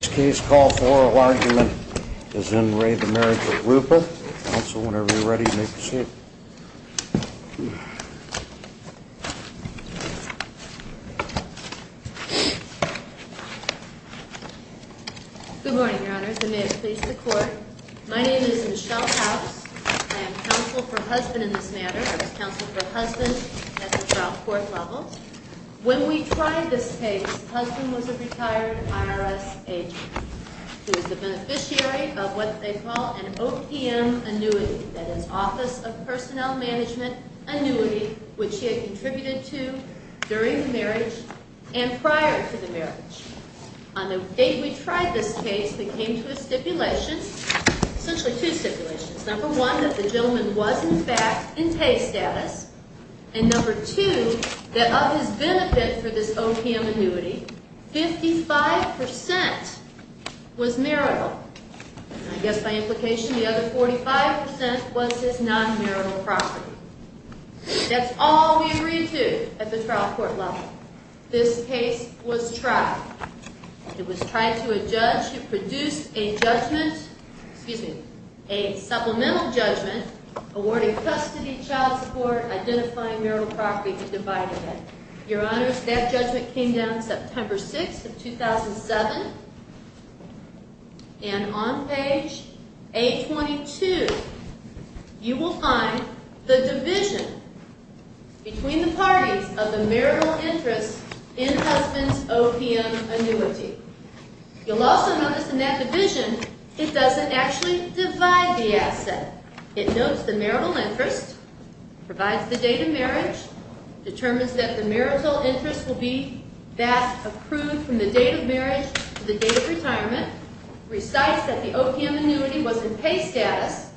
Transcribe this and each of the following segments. Case call for argument is in re the marriage of Rupa. Also, whenever you're ready to make the seat. Good morning, Your Honor, the mayor's pleased to court. My name is Michelle House. I am counsel for husband in this matter. I was counsel for husband at the trial court level. When we tried this case, husband was a retired IRS agent who is the beneficiary of what they call an OPM annuity, that is Office of Personnel Management annuity, which he had contributed to during the marriage and prior to the marriage. On the date we tried this case, they came to a stipulation, essentially two stipulations. Number one, that the gentleman was in fact in pay status. And number two, that of his benefit for this OPM annuity, 55% was marital. I guess by implication, the other 45% was his non-marital property. That's all we agreed to at the trial court level. This case was tried. It was tried to a judge who produced a judgment, excuse me, a supplemental judgment awarding custody, child support, identifying marital property and dividing it. Your Honor, that judgment came down September 6th of 2007. And on page A22, you will find the division between the parties of the marital interest in husband's OPM annuity. You'll also notice in that division, it doesn't actually divide the asset. It notes the marital interest, provides the date of marriage, determines that the marital interest will be that approved from the date of marriage to the date of retirement, recites that the OPM annuity was in pay status,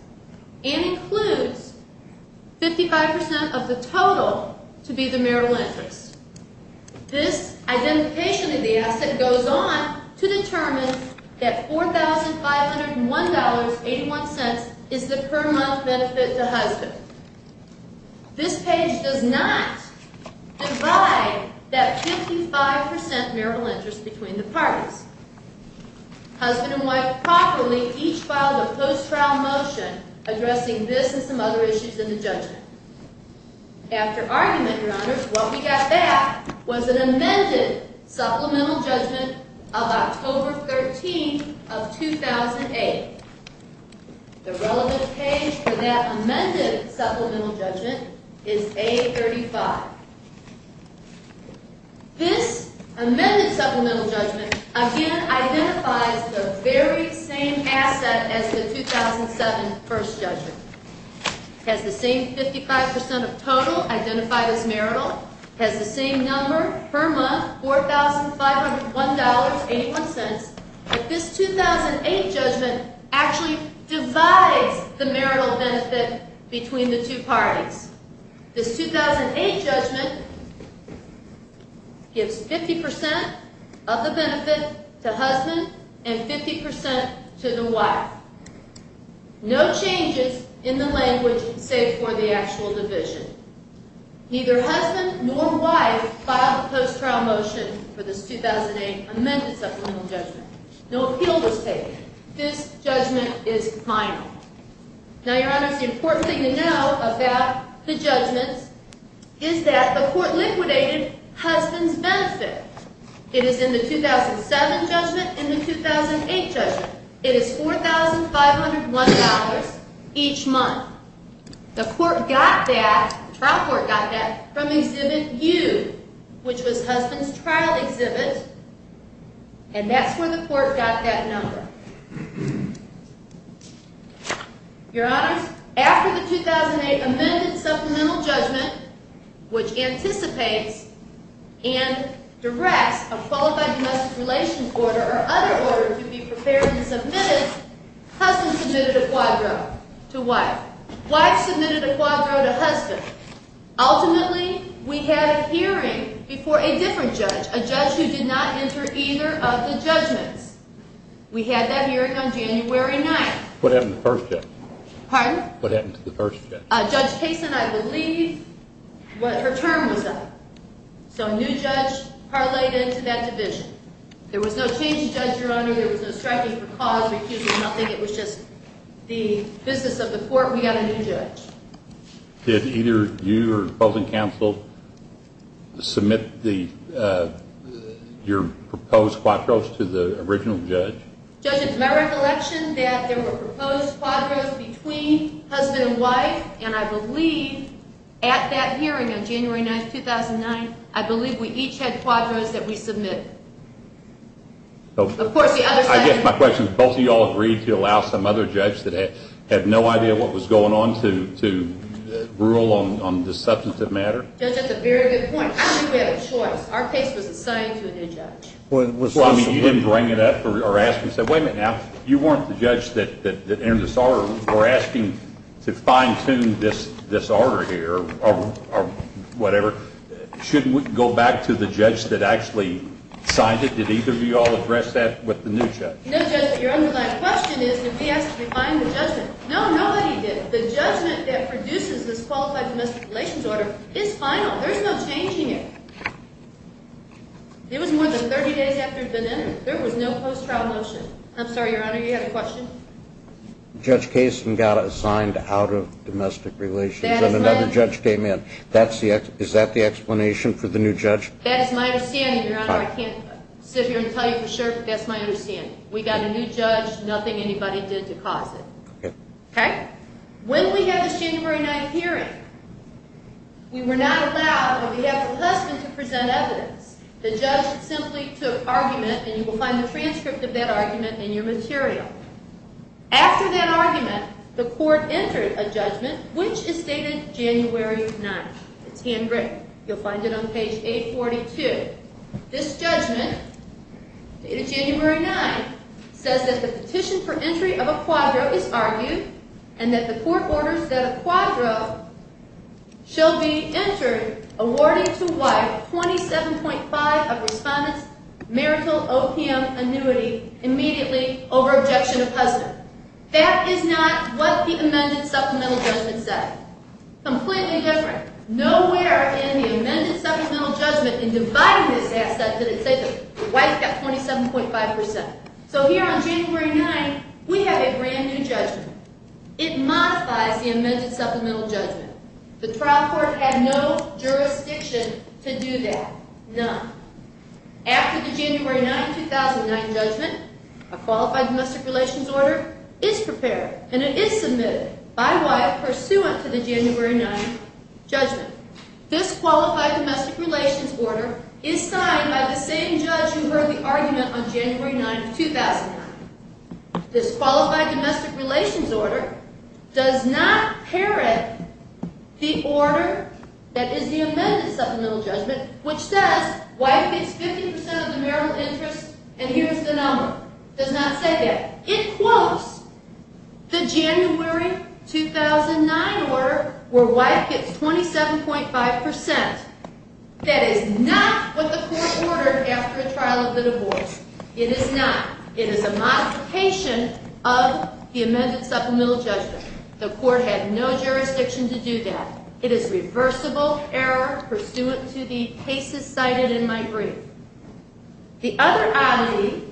and includes 55% of the total to be the marital interest. This identification of the asset goes on to determine that $4,501.81 is the per month benefit to husband. This page does not divide that 55% marital interest between the parties. Husband and wife properly each filed a post-trial motion addressing this and some other issues in the judgment. After argument, Your Honor, what we got back was an amended supplemental judgment of October 13th of 2008. The relevant page for that amended supplemental judgment is A35. This amended supplemental judgment, again, identifies the very same asset as the 2007 first judgment. It has the same 55% of total identified as marital, has the same number per month, $4,501.81, but this 2008 judgment actually divides the marital benefit between the two parties. This 2008 judgment gives 50% of the benefit to husband and 50% to the wife. No changes in the language save for the actual division. Neither husband nor wife filed a post-trial motion for this 2008 amended supplemental judgment. No appeal was taken. This judgment is final. Now, Your Honor, the important thing to know about the judgment is that the court liquidated husband's benefit. It is in the 2007 judgment and the 2008 judgment. It is $4,501 each month. The court got that, the trial court got that from Exhibit U, which was husband's trial exhibit, and that's where the court got that number. Your Honor, after the 2008 amended supplemental judgment, which anticipates and directs a qualified domestic relations order or other order to be prepared and submitted, husband submitted a quadro to wife. Wife submitted a quadro to husband. Ultimately, we had a hearing before a different judge, a judge who did not enter either of the judgments. We had that hearing on January 9th. What happened to the first judge? Pardon? What happened to the first judge? Judge Kasin, I believe, her term was up. So a new judge parlayed into that division. There was no change of judge, Your Honor. There was no striking for cause, recusal, nothing. It was just the business of the court. We got a new judge. Did either you or the opposing counsel submit your proposed quadros to the original judge? Judge, it's my recollection that there were proposed quadros between husband and wife, and I believe at that hearing on January 9th, 2009, I believe we each had quadros that we submitted. Of course, the other side… I guess my question is both of you all agreed to allow some other judge that had no idea what was going on to rule on this substantive matter? Judge, that's a very good point. I think we had a choice. Our case was assigned to a new judge. Well, I mean, you didn't bring it up or ask. You said, wait a minute now. You weren't the judge that entered this order. We're asking to fine-tune this order here or whatever. Shouldn't we go back to the judge that actually signed it? Did either of you all address that with the new judge? No, Judge, but your underlying question is that we asked to refine the judgment. No, nobody did. The judgment that produces this qualified domestic relations order is final. There's no change in it. It was more than 30 days after it had been entered. There was no post-trial motion. I'm sorry, Your Honor, you had a question? Judge Kasin got assigned out of domestic relations, and another judge came in. Is that the explanation for the new judge? That's my understanding, Your Honor. I can't sit here and tell you for sure, but that's my understanding. We got a new judge. Nothing anybody did to cause it. When we had this January 9 hearing, we were not allowed on behalf of the husband to present evidence. The judge simply took argument, and you will find the transcript of that argument in your material. After that argument, the court entered a judgment, which is dated January 9. It's handwritten. You'll find it on page 842. This judgment, dated January 9, says that the petition for entry of a quadro is argued, and that the court orders that a quadro shall be entered, awarding to wife $27.5 of respondent's marital OPM annuity immediately over objection of husband. That is not what the amended supplemental judgment said. Completely different. Nowhere in the amended supplemental judgment in dividing this asset did it say that the wife got 27.5 percent. So here on January 9, we have a brand-new judgment. It modifies the amended supplemental judgment. The trial court had no jurisdiction to do that. None. After the January 9, 2009 judgment, a qualified domestic relations order is prepared, and it is submitted by wife pursuant to the January 9 judgment. This qualified domestic relations order is signed by the same judge who heard the argument on January 9, 2009. This qualified domestic relations order does not parrot the order that is the amended supplemental judgment, which says wife gets 50 percent of the marital interest, and here is the number. It does not say that. It quotes the January 2009 order where wife gets 27.5 percent. That is not what the court ordered after a trial of the divorce. It is not. It is a modification of the amended supplemental judgment. The court had no jurisdiction to do that. It is reversible error pursuant to the cases cited in my brief. The other oddity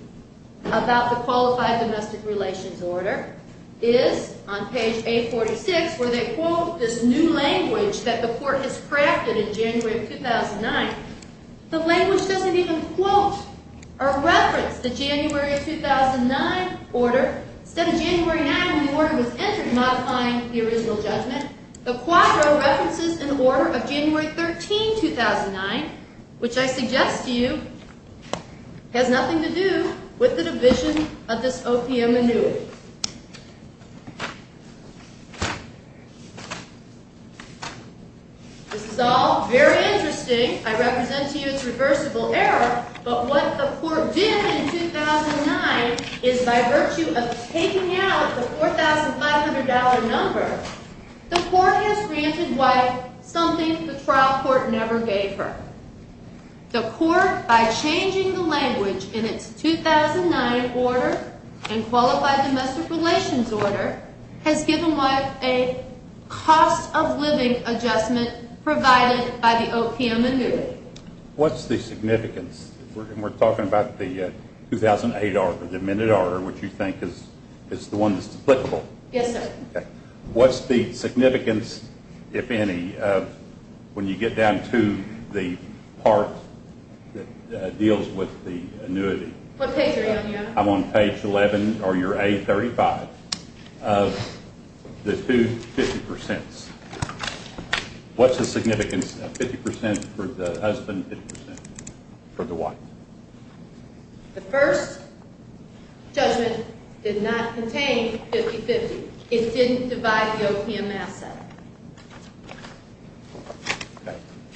about the qualified domestic relations order is on page 846 where they quote this new language that the court has crafted in January 2009. The language doesn't even quote or reference the January 2009 order. Instead of January 9, when the order was entered, modifying the original judgment, the quadro references an order of January 13, 2009, which I suggest to you has nothing to do with the division of this OPM renewal. This is all very interesting. I represent to you its reversible error, but what the court did in 2009 is by virtue of taking out the $4,500 number, the court has granted wife something the trial court never gave her. The court, by changing the language in its 2009 order and qualified domestic relations order, has given wife a cost of living adjustment provided by the OPM renewal. What's the significance? We're talking about the 2008 order, the amended order, which you think is the one that's applicable. Yes, sir. What's the significance, if any, when you get down to the part that deals with the annuity? What page are you on, Your Honor? I'm on page 11 or your A35 of the two 50 percents. What's the significance of 50 percent for the husband and 50 percent for the wife? The first judgment did not contain 50-50. It didn't divide the OPM asset.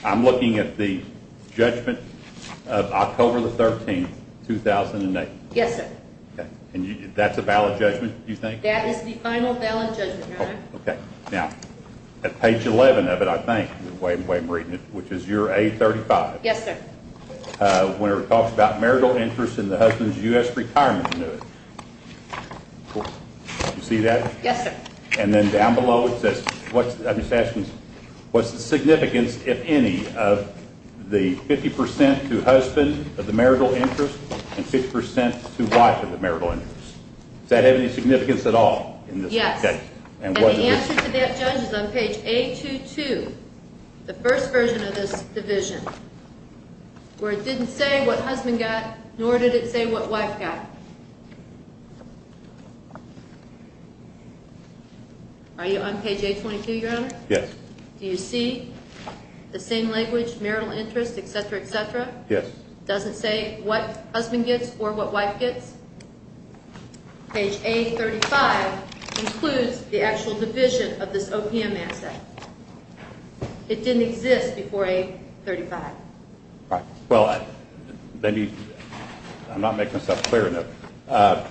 I'm looking at the judgment of October 13, 2008. Yes, sir. That's a valid judgment, you think? That is the final valid judgment, Your Honor. Okay. Now, at page 11 of it, I think, which is your A35. Yes, sir. When it talks about marital interest in the husband's U.S. retirement annuity. Do you see that? Yes, sir. And then down below it says, I'm just asking, what's the significance, if any, of the 50 percent to husband of the marital interest and 50 percent to wife of the marital interest? Does that have any significance at all in this case? And the answer to that, Judge, is on page A22, the first version of this division, where it didn't say what husband got, nor did it say what wife got. Are you on page A22, Your Honor? Yes. Do you see the same language, marital interest, et cetera, et cetera? Yes. It doesn't say what husband gets or what wife gets? Page A35 includes the actual division of this OPM asset. It didn't exist before A35. All right. Well, I'm not making myself clear enough.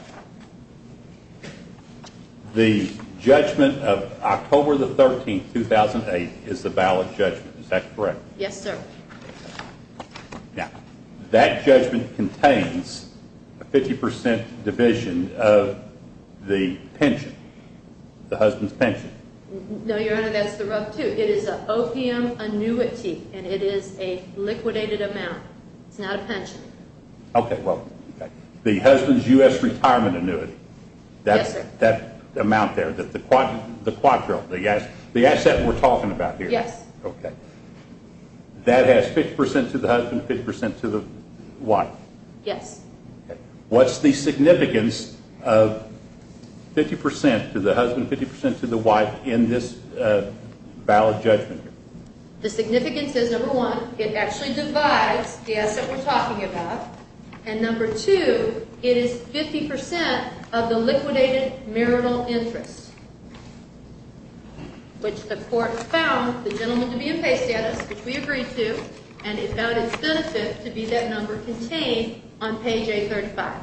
The judgment of October the 13th, 2008, is the valid judgment. Is that correct? Yes, sir. Now, that judgment contains a 50 percent division of the pension, the husband's pension. No, Your Honor, that's the rough two. It is an OPM annuity, and it is a liquidated amount. It's not a pension. Okay, well, the husband's U.S. retirement annuity, that amount there, the quadro, the asset we're talking about here. Yes. Okay. That has 50 percent to the husband, 50 percent to the wife. Yes. Okay. What's the significance of 50 percent to the husband, 50 percent to the wife in this valid judgment here? The significance is, number one, it actually divides the asset we're talking about, and number two, it is 50 percent of the liquidated marital interest, which the court found the gentleman to be in pay status, which we agreed to, and it vetted its benefit to be that number contained on page 835.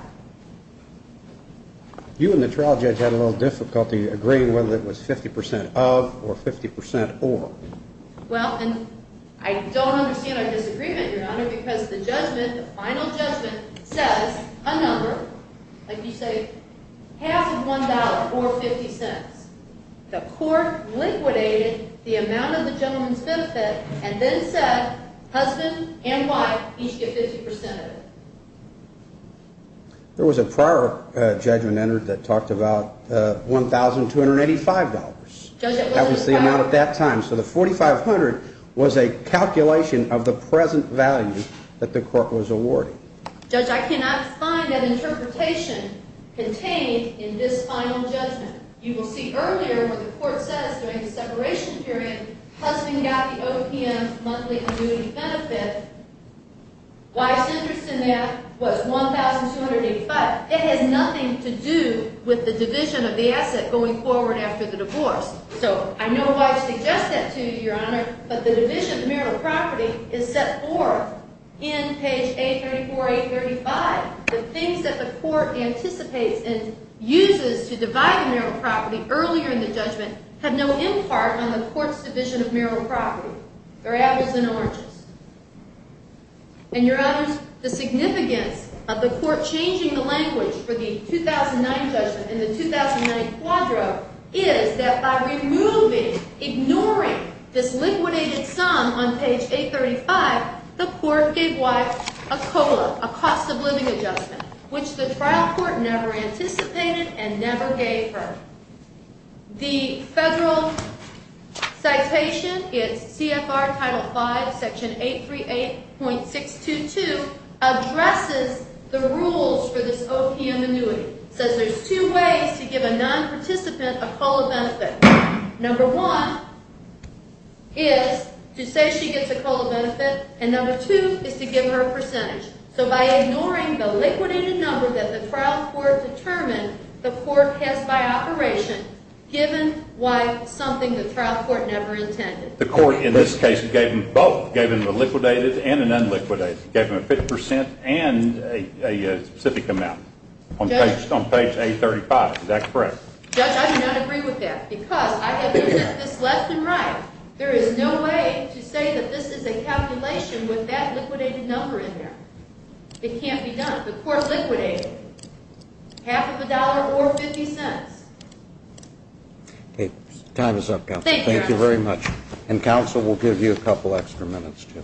You and the trial judge had a little difficulty agreeing whether it was 50 percent of or 50 percent or. Well, and I don't understand our disagreement, Your Honor, because the judgment, the final judgment, says a number, like you say, half of $1 or 50 cents. The court liquidated the amount of the gentleman's benefit and then said husband and wife each get 50 percent of it. There was a prior judgment entered that talked about $1,285. That was the amount at that time. So the $4,500 was a calculation of the present value that the court was awarding. Judge, I cannot find that interpretation contained in this final judgment. You will see earlier what the court says during the separation period, husband got the OPM monthly annuity benefit, wife's interest in that was $1,285. It has nothing to do with the division of the asset going forward after the divorce. So I know wife suggests that to you, Your Honor, but the division of marital property is set forth in page 834, 835. The things that the court anticipates and uses to divide the marital property earlier in the judgment have no impart on the court's division of marital property. Grapples and oranges. And, Your Honors, the significance of the court changing the language for the 2009 judgment in the 2009 quadro is that by removing, ignoring this liquidated sum on page 835, the court gave wife a COLA, a cost of living adjustment, which the trial court never anticipated and never gave her. The federal citation, it's CFR Title V, Section 838.622, addresses the rules for this OPM annuity. It says there's two ways to give a non-participant a COLA benefit. Number one is to say she gets a COLA benefit, and number two is to give her a percentage. So by ignoring the liquidated number that the trial court determined, the court passed by operation given wife something the trial court never intended. The court, in this case, gave them both. Gave them a liquidated and an unliquidated. Gave them a 50% and a specific amount on page 835. Is that correct? Judge, I do not agree with that because I have presented this left and right. There is no way to say that this is a calculation with that liquidated number in there. It can't be done. The court liquidated half of a dollar or 50 cents. Time is up, Counsel. Thank you, Your Honor. Thank you very much. And Counsel will give you a couple extra minutes, too.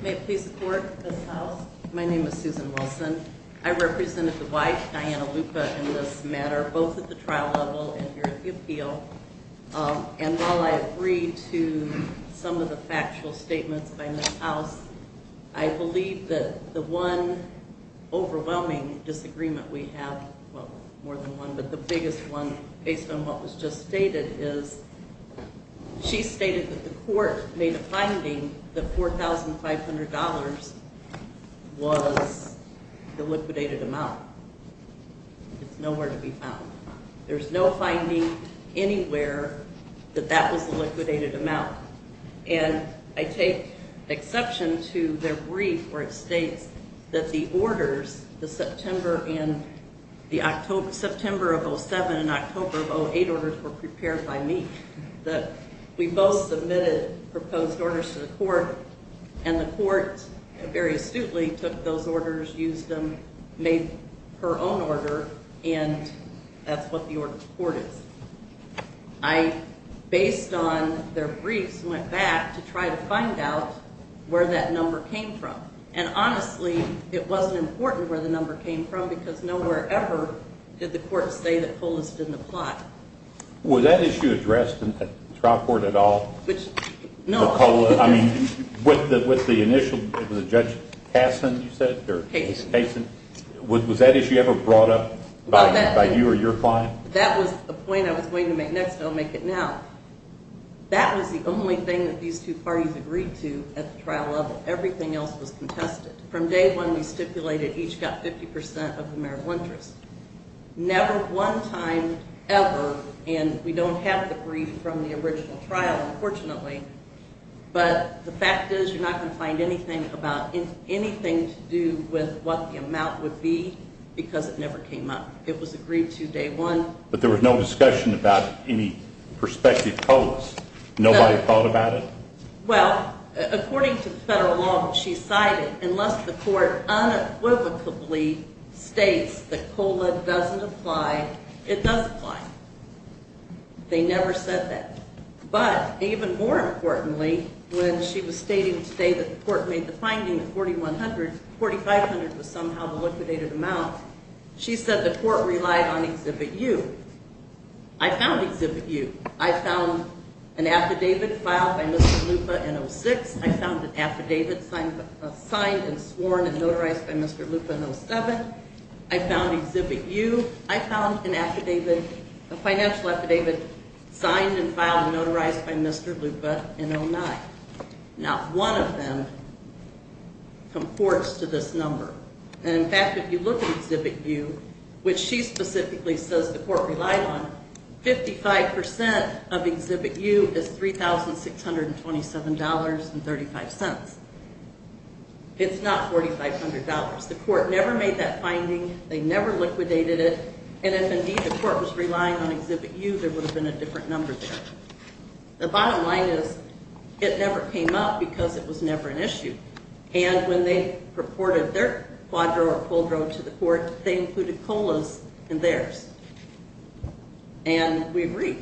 May it please the Court, Ms. House? My name is Susan Wilson. I represented the wife, Diana Lupa, in this matter, both at the trial level and here at the appeal. And while I agree to some of the factual statements by Ms. House, I believe that the one overwhelming disagreement we have, well, more than one, but the biggest one based on what was just stated is she stated that the court made a finding that $4,500 was the liquidated amount. It's nowhere to be found. There's no finding anywhere that that was the liquidated amount. And I take exception to their brief where it states that the orders, the September of 07 and October of 08 orders were prepared by me. That we both submitted proposed orders to the court, and the court very astutely took those orders, used them, made her own order, and that's what the order to the court is. I, based on their briefs, went back to try to find out where that number came from. And honestly, it wasn't important where the number came from because nowhere ever did the court say that COLAs didn't apply. Was that issue addressed at trial court at all? Which, no. I mean, with the initial, with Judge Hasen, you said? Hasen. Hasen. Was that issue ever brought up by you or your client? That was the point I was going to make next, and I'll make it now. That was the only thing that these two parties agreed to at the trial level. Everything else was contested. From day one, we stipulated each got 50% of the marital interest. Never one time ever, and we don't have the brief from the original trial, unfortunately, but the fact is you're not going to find anything about anything to do with what the amount would be because it never came up. It was agreed to day one. But there was no discussion about any prospective COLAs? Nobody thought about it? Well, according to federal law, she cited, unless the court unequivocally states that COLA doesn't apply, it does apply. They never said that. But even more importantly, when she was stating today that the court made the finding that $4,100, $4,500 was somehow the liquidated amount, she said the court relied on Exhibit U. I found Exhibit U. I found an affidavit filed by Mr. Lupa in 06. I found an affidavit signed and sworn and notarized by Mr. Lupa in 07. I found Exhibit U. I found an affidavit, a financial affidavit signed and filed and notarized by Mr. Lupa in 09. Not one of them comports to this number. And, in fact, if you look at Exhibit U, which she specifically says the court relied on, 55% of Exhibit U is $3,627.35. It's not $4,500. The court never made that finding. They never liquidated it. And if, indeed, the court was relying on Exhibit U, there would have been a different number there. The bottom line is it never came up because it was never an issue. And when they purported their quadro or quadro to the court, they included COLAs in theirs. And we agree.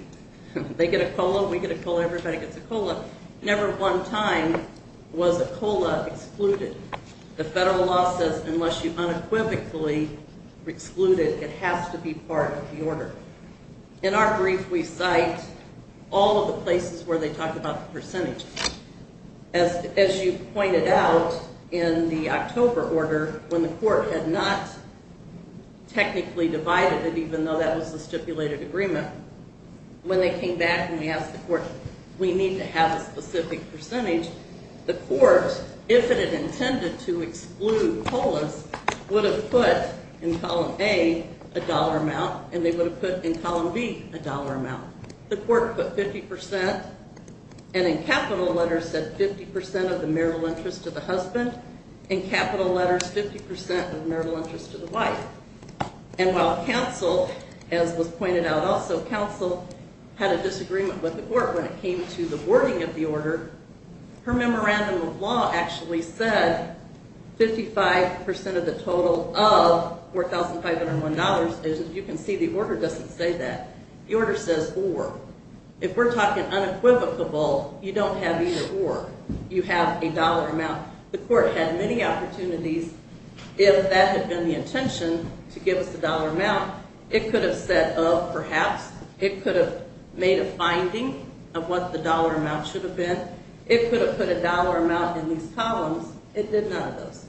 They get a COLA, we get a COLA, everybody gets a COLA. Never one time was a COLA excluded. The federal law says unless you unequivocally exclude it, it has to be part of the order. In our brief, we cite all of the places where they talk about the percentage. As you pointed out in the October order, when the court had not technically divided it, even though that was the stipulated agreement, when they came back and they asked the court, we need to have a specific percentage, the court, if it had intended to exclude COLAs, would have put in column A a dollar amount, and they would have put in column B a dollar amount. The court put 50%, and in capital letters said 50% of the marital interest to the husband. In capital letters, 50% of marital interest to the wife. And while counsel, as was pointed out also, counsel had a disagreement with the court when it came to the wording of the order. Her memorandum of law actually said 55% of the total of $4,501. As you can see, the order doesn't say that. The order says or. If we're talking unequivocable, you don't have either or. You have a dollar amount. The court had many opportunities. If that had been the intention, to give us a dollar amount, it could have said of perhaps. It could have made a finding of what the dollar amount should have been. It could have put a dollar amount in these columns. It did none of those.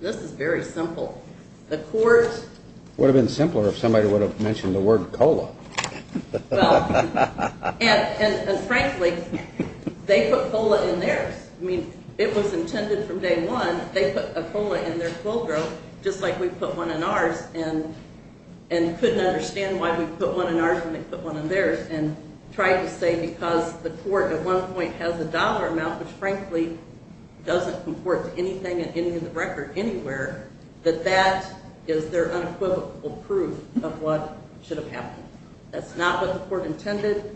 This is very simple. It would have been simpler if somebody would have mentioned the word cola. Well, and frankly, they put cola in theirs. I mean, it was intended from day one. They put a cola in their fulgro, just like we put one in ours and couldn't understand why we put one in ours and they put one in theirs and tried to say because the court at one point has a dollar amount, which frankly doesn't comport to anything in the record anywhere, that that is their unequivocal proof of what should have happened. That's not what the court intended.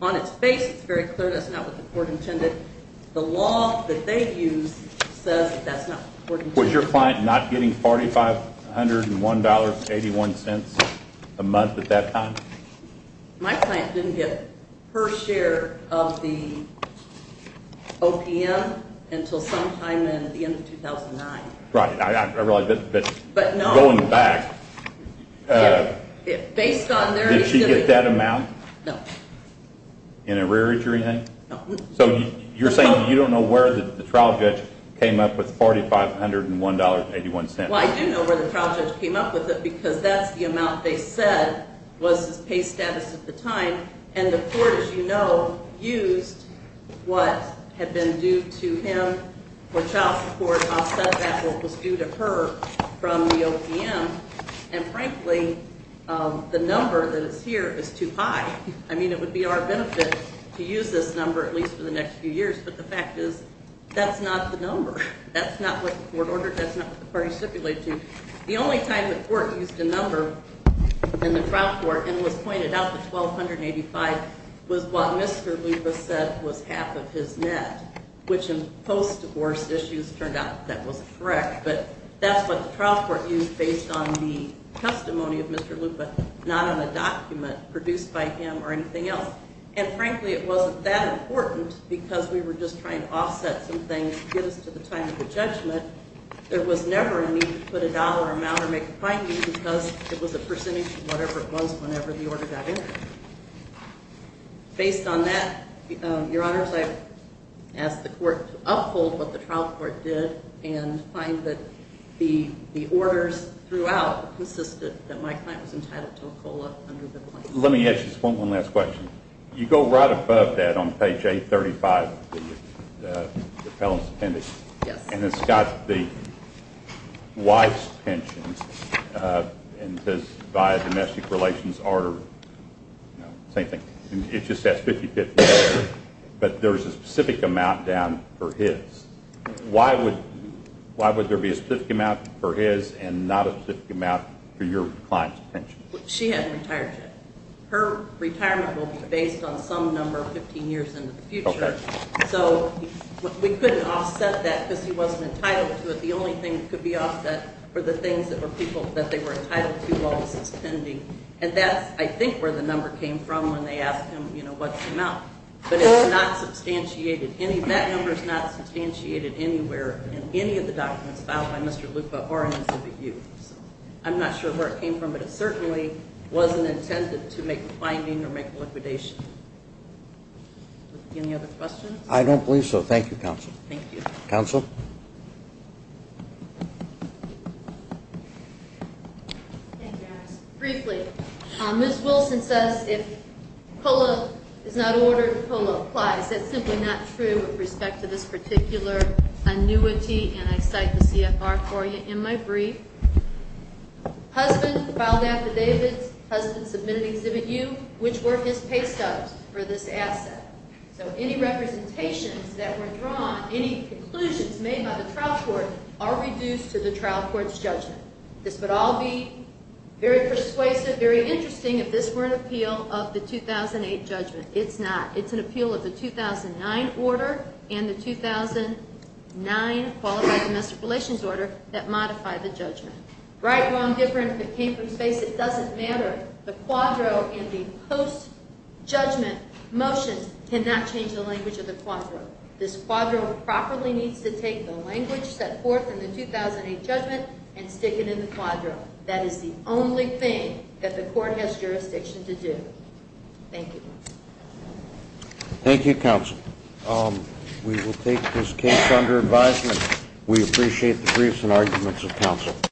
On its face, it's very clear that's not what the court intended. The law that they used says that's not what the court intended. Was your client not getting $4,501.81 a month at that time? My client didn't get her share of the OPM until sometime in the end of 2009. Right. I realize, but going back, did she get that amount? No. In a rearage or anything? No. So you're saying you don't know where the trial judge came up with $4,501.81? Well, I do know where the trial judge came up with it because that's the amount they said was his pay status at the time, and the court, as you know, used what had been due to him for child support, offset that what was due to her from the OPM, and frankly the number that is here is too high. I mean it would be our benefit to use this number at least for the next few years, but the fact is that's not the number. That's not what the court ordered. That's not what the parties stipulated to. The only time the court used a number in the trial court and was pointed out the $1,285.00 was what Mr. Lupa said was half of his net, which in post-divorce issues turned out that was correct, but that's what the trial court used based on the testimony of Mr. Lupa, not on a document produced by him or anything else, and frankly it wasn't that important because we were just trying to offset some things to get us to the time of the judgment. But there was never a need to put a dollar amount or make a finding because it was a percentage of whatever it was whenever the order got in. Based on that, Your Honors, I ask the court to uphold what the trial court did and find that the orders throughout consisted that my client was entitled to a COLA. Let me ask just one last question. You go right above that on page 835, the felon's appendix, and it's got the wife's pensions and says by domestic relations order, same thing. It just says 50-50, but there's a specific amount down for his. Why would there be a specific amount for his and not a specific amount for your client's pension? She hasn't retired yet. Her retirement will be based on some number 15 years into the future, so we couldn't offset that because he wasn't entitled to it. The only thing that could be offset were the things that they were entitled to while he was pending, and that's, I think, where the number came from when they asked him what's the amount. But it's not substantiated. That number is not substantiated anywhere in any of the documents filed by Mr. Lupa or in the subpoena. I'm not sure where it came from, but it certainly wasn't intended to make a finding or make a liquidation. Any other questions? I don't believe so. Thank you, Counsel. Thank you. Counsel? Thank you, Alex. Briefly, Ms. Wilson says if COLA is not ordered, COLA applies. That's simply not true with respect to this particular annuity, and I cite the CFR for you in my brief. Husband filed affidavits. Husband submitted Exhibit U, which were his pay stubs for this asset. So any representations that were drawn, any conclusions made by the trial court are reduced to the trial court's judgment. This would all be very persuasive, very interesting if this were an appeal of the 2008 judgment. It's not. Right, wrong, different, if it came from space, it doesn't matter. The quadro and the post-judgment motion cannot change the language of the quadro. This quadro properly needs to take the language set forth in the 2008 judgment and stick it in the quadro. That is the only thing that the court has jurisdiction to do. Thank you. Thank you, Counsel. We will take this case under advisement. We appreciate the briefs and arguments of Counsel.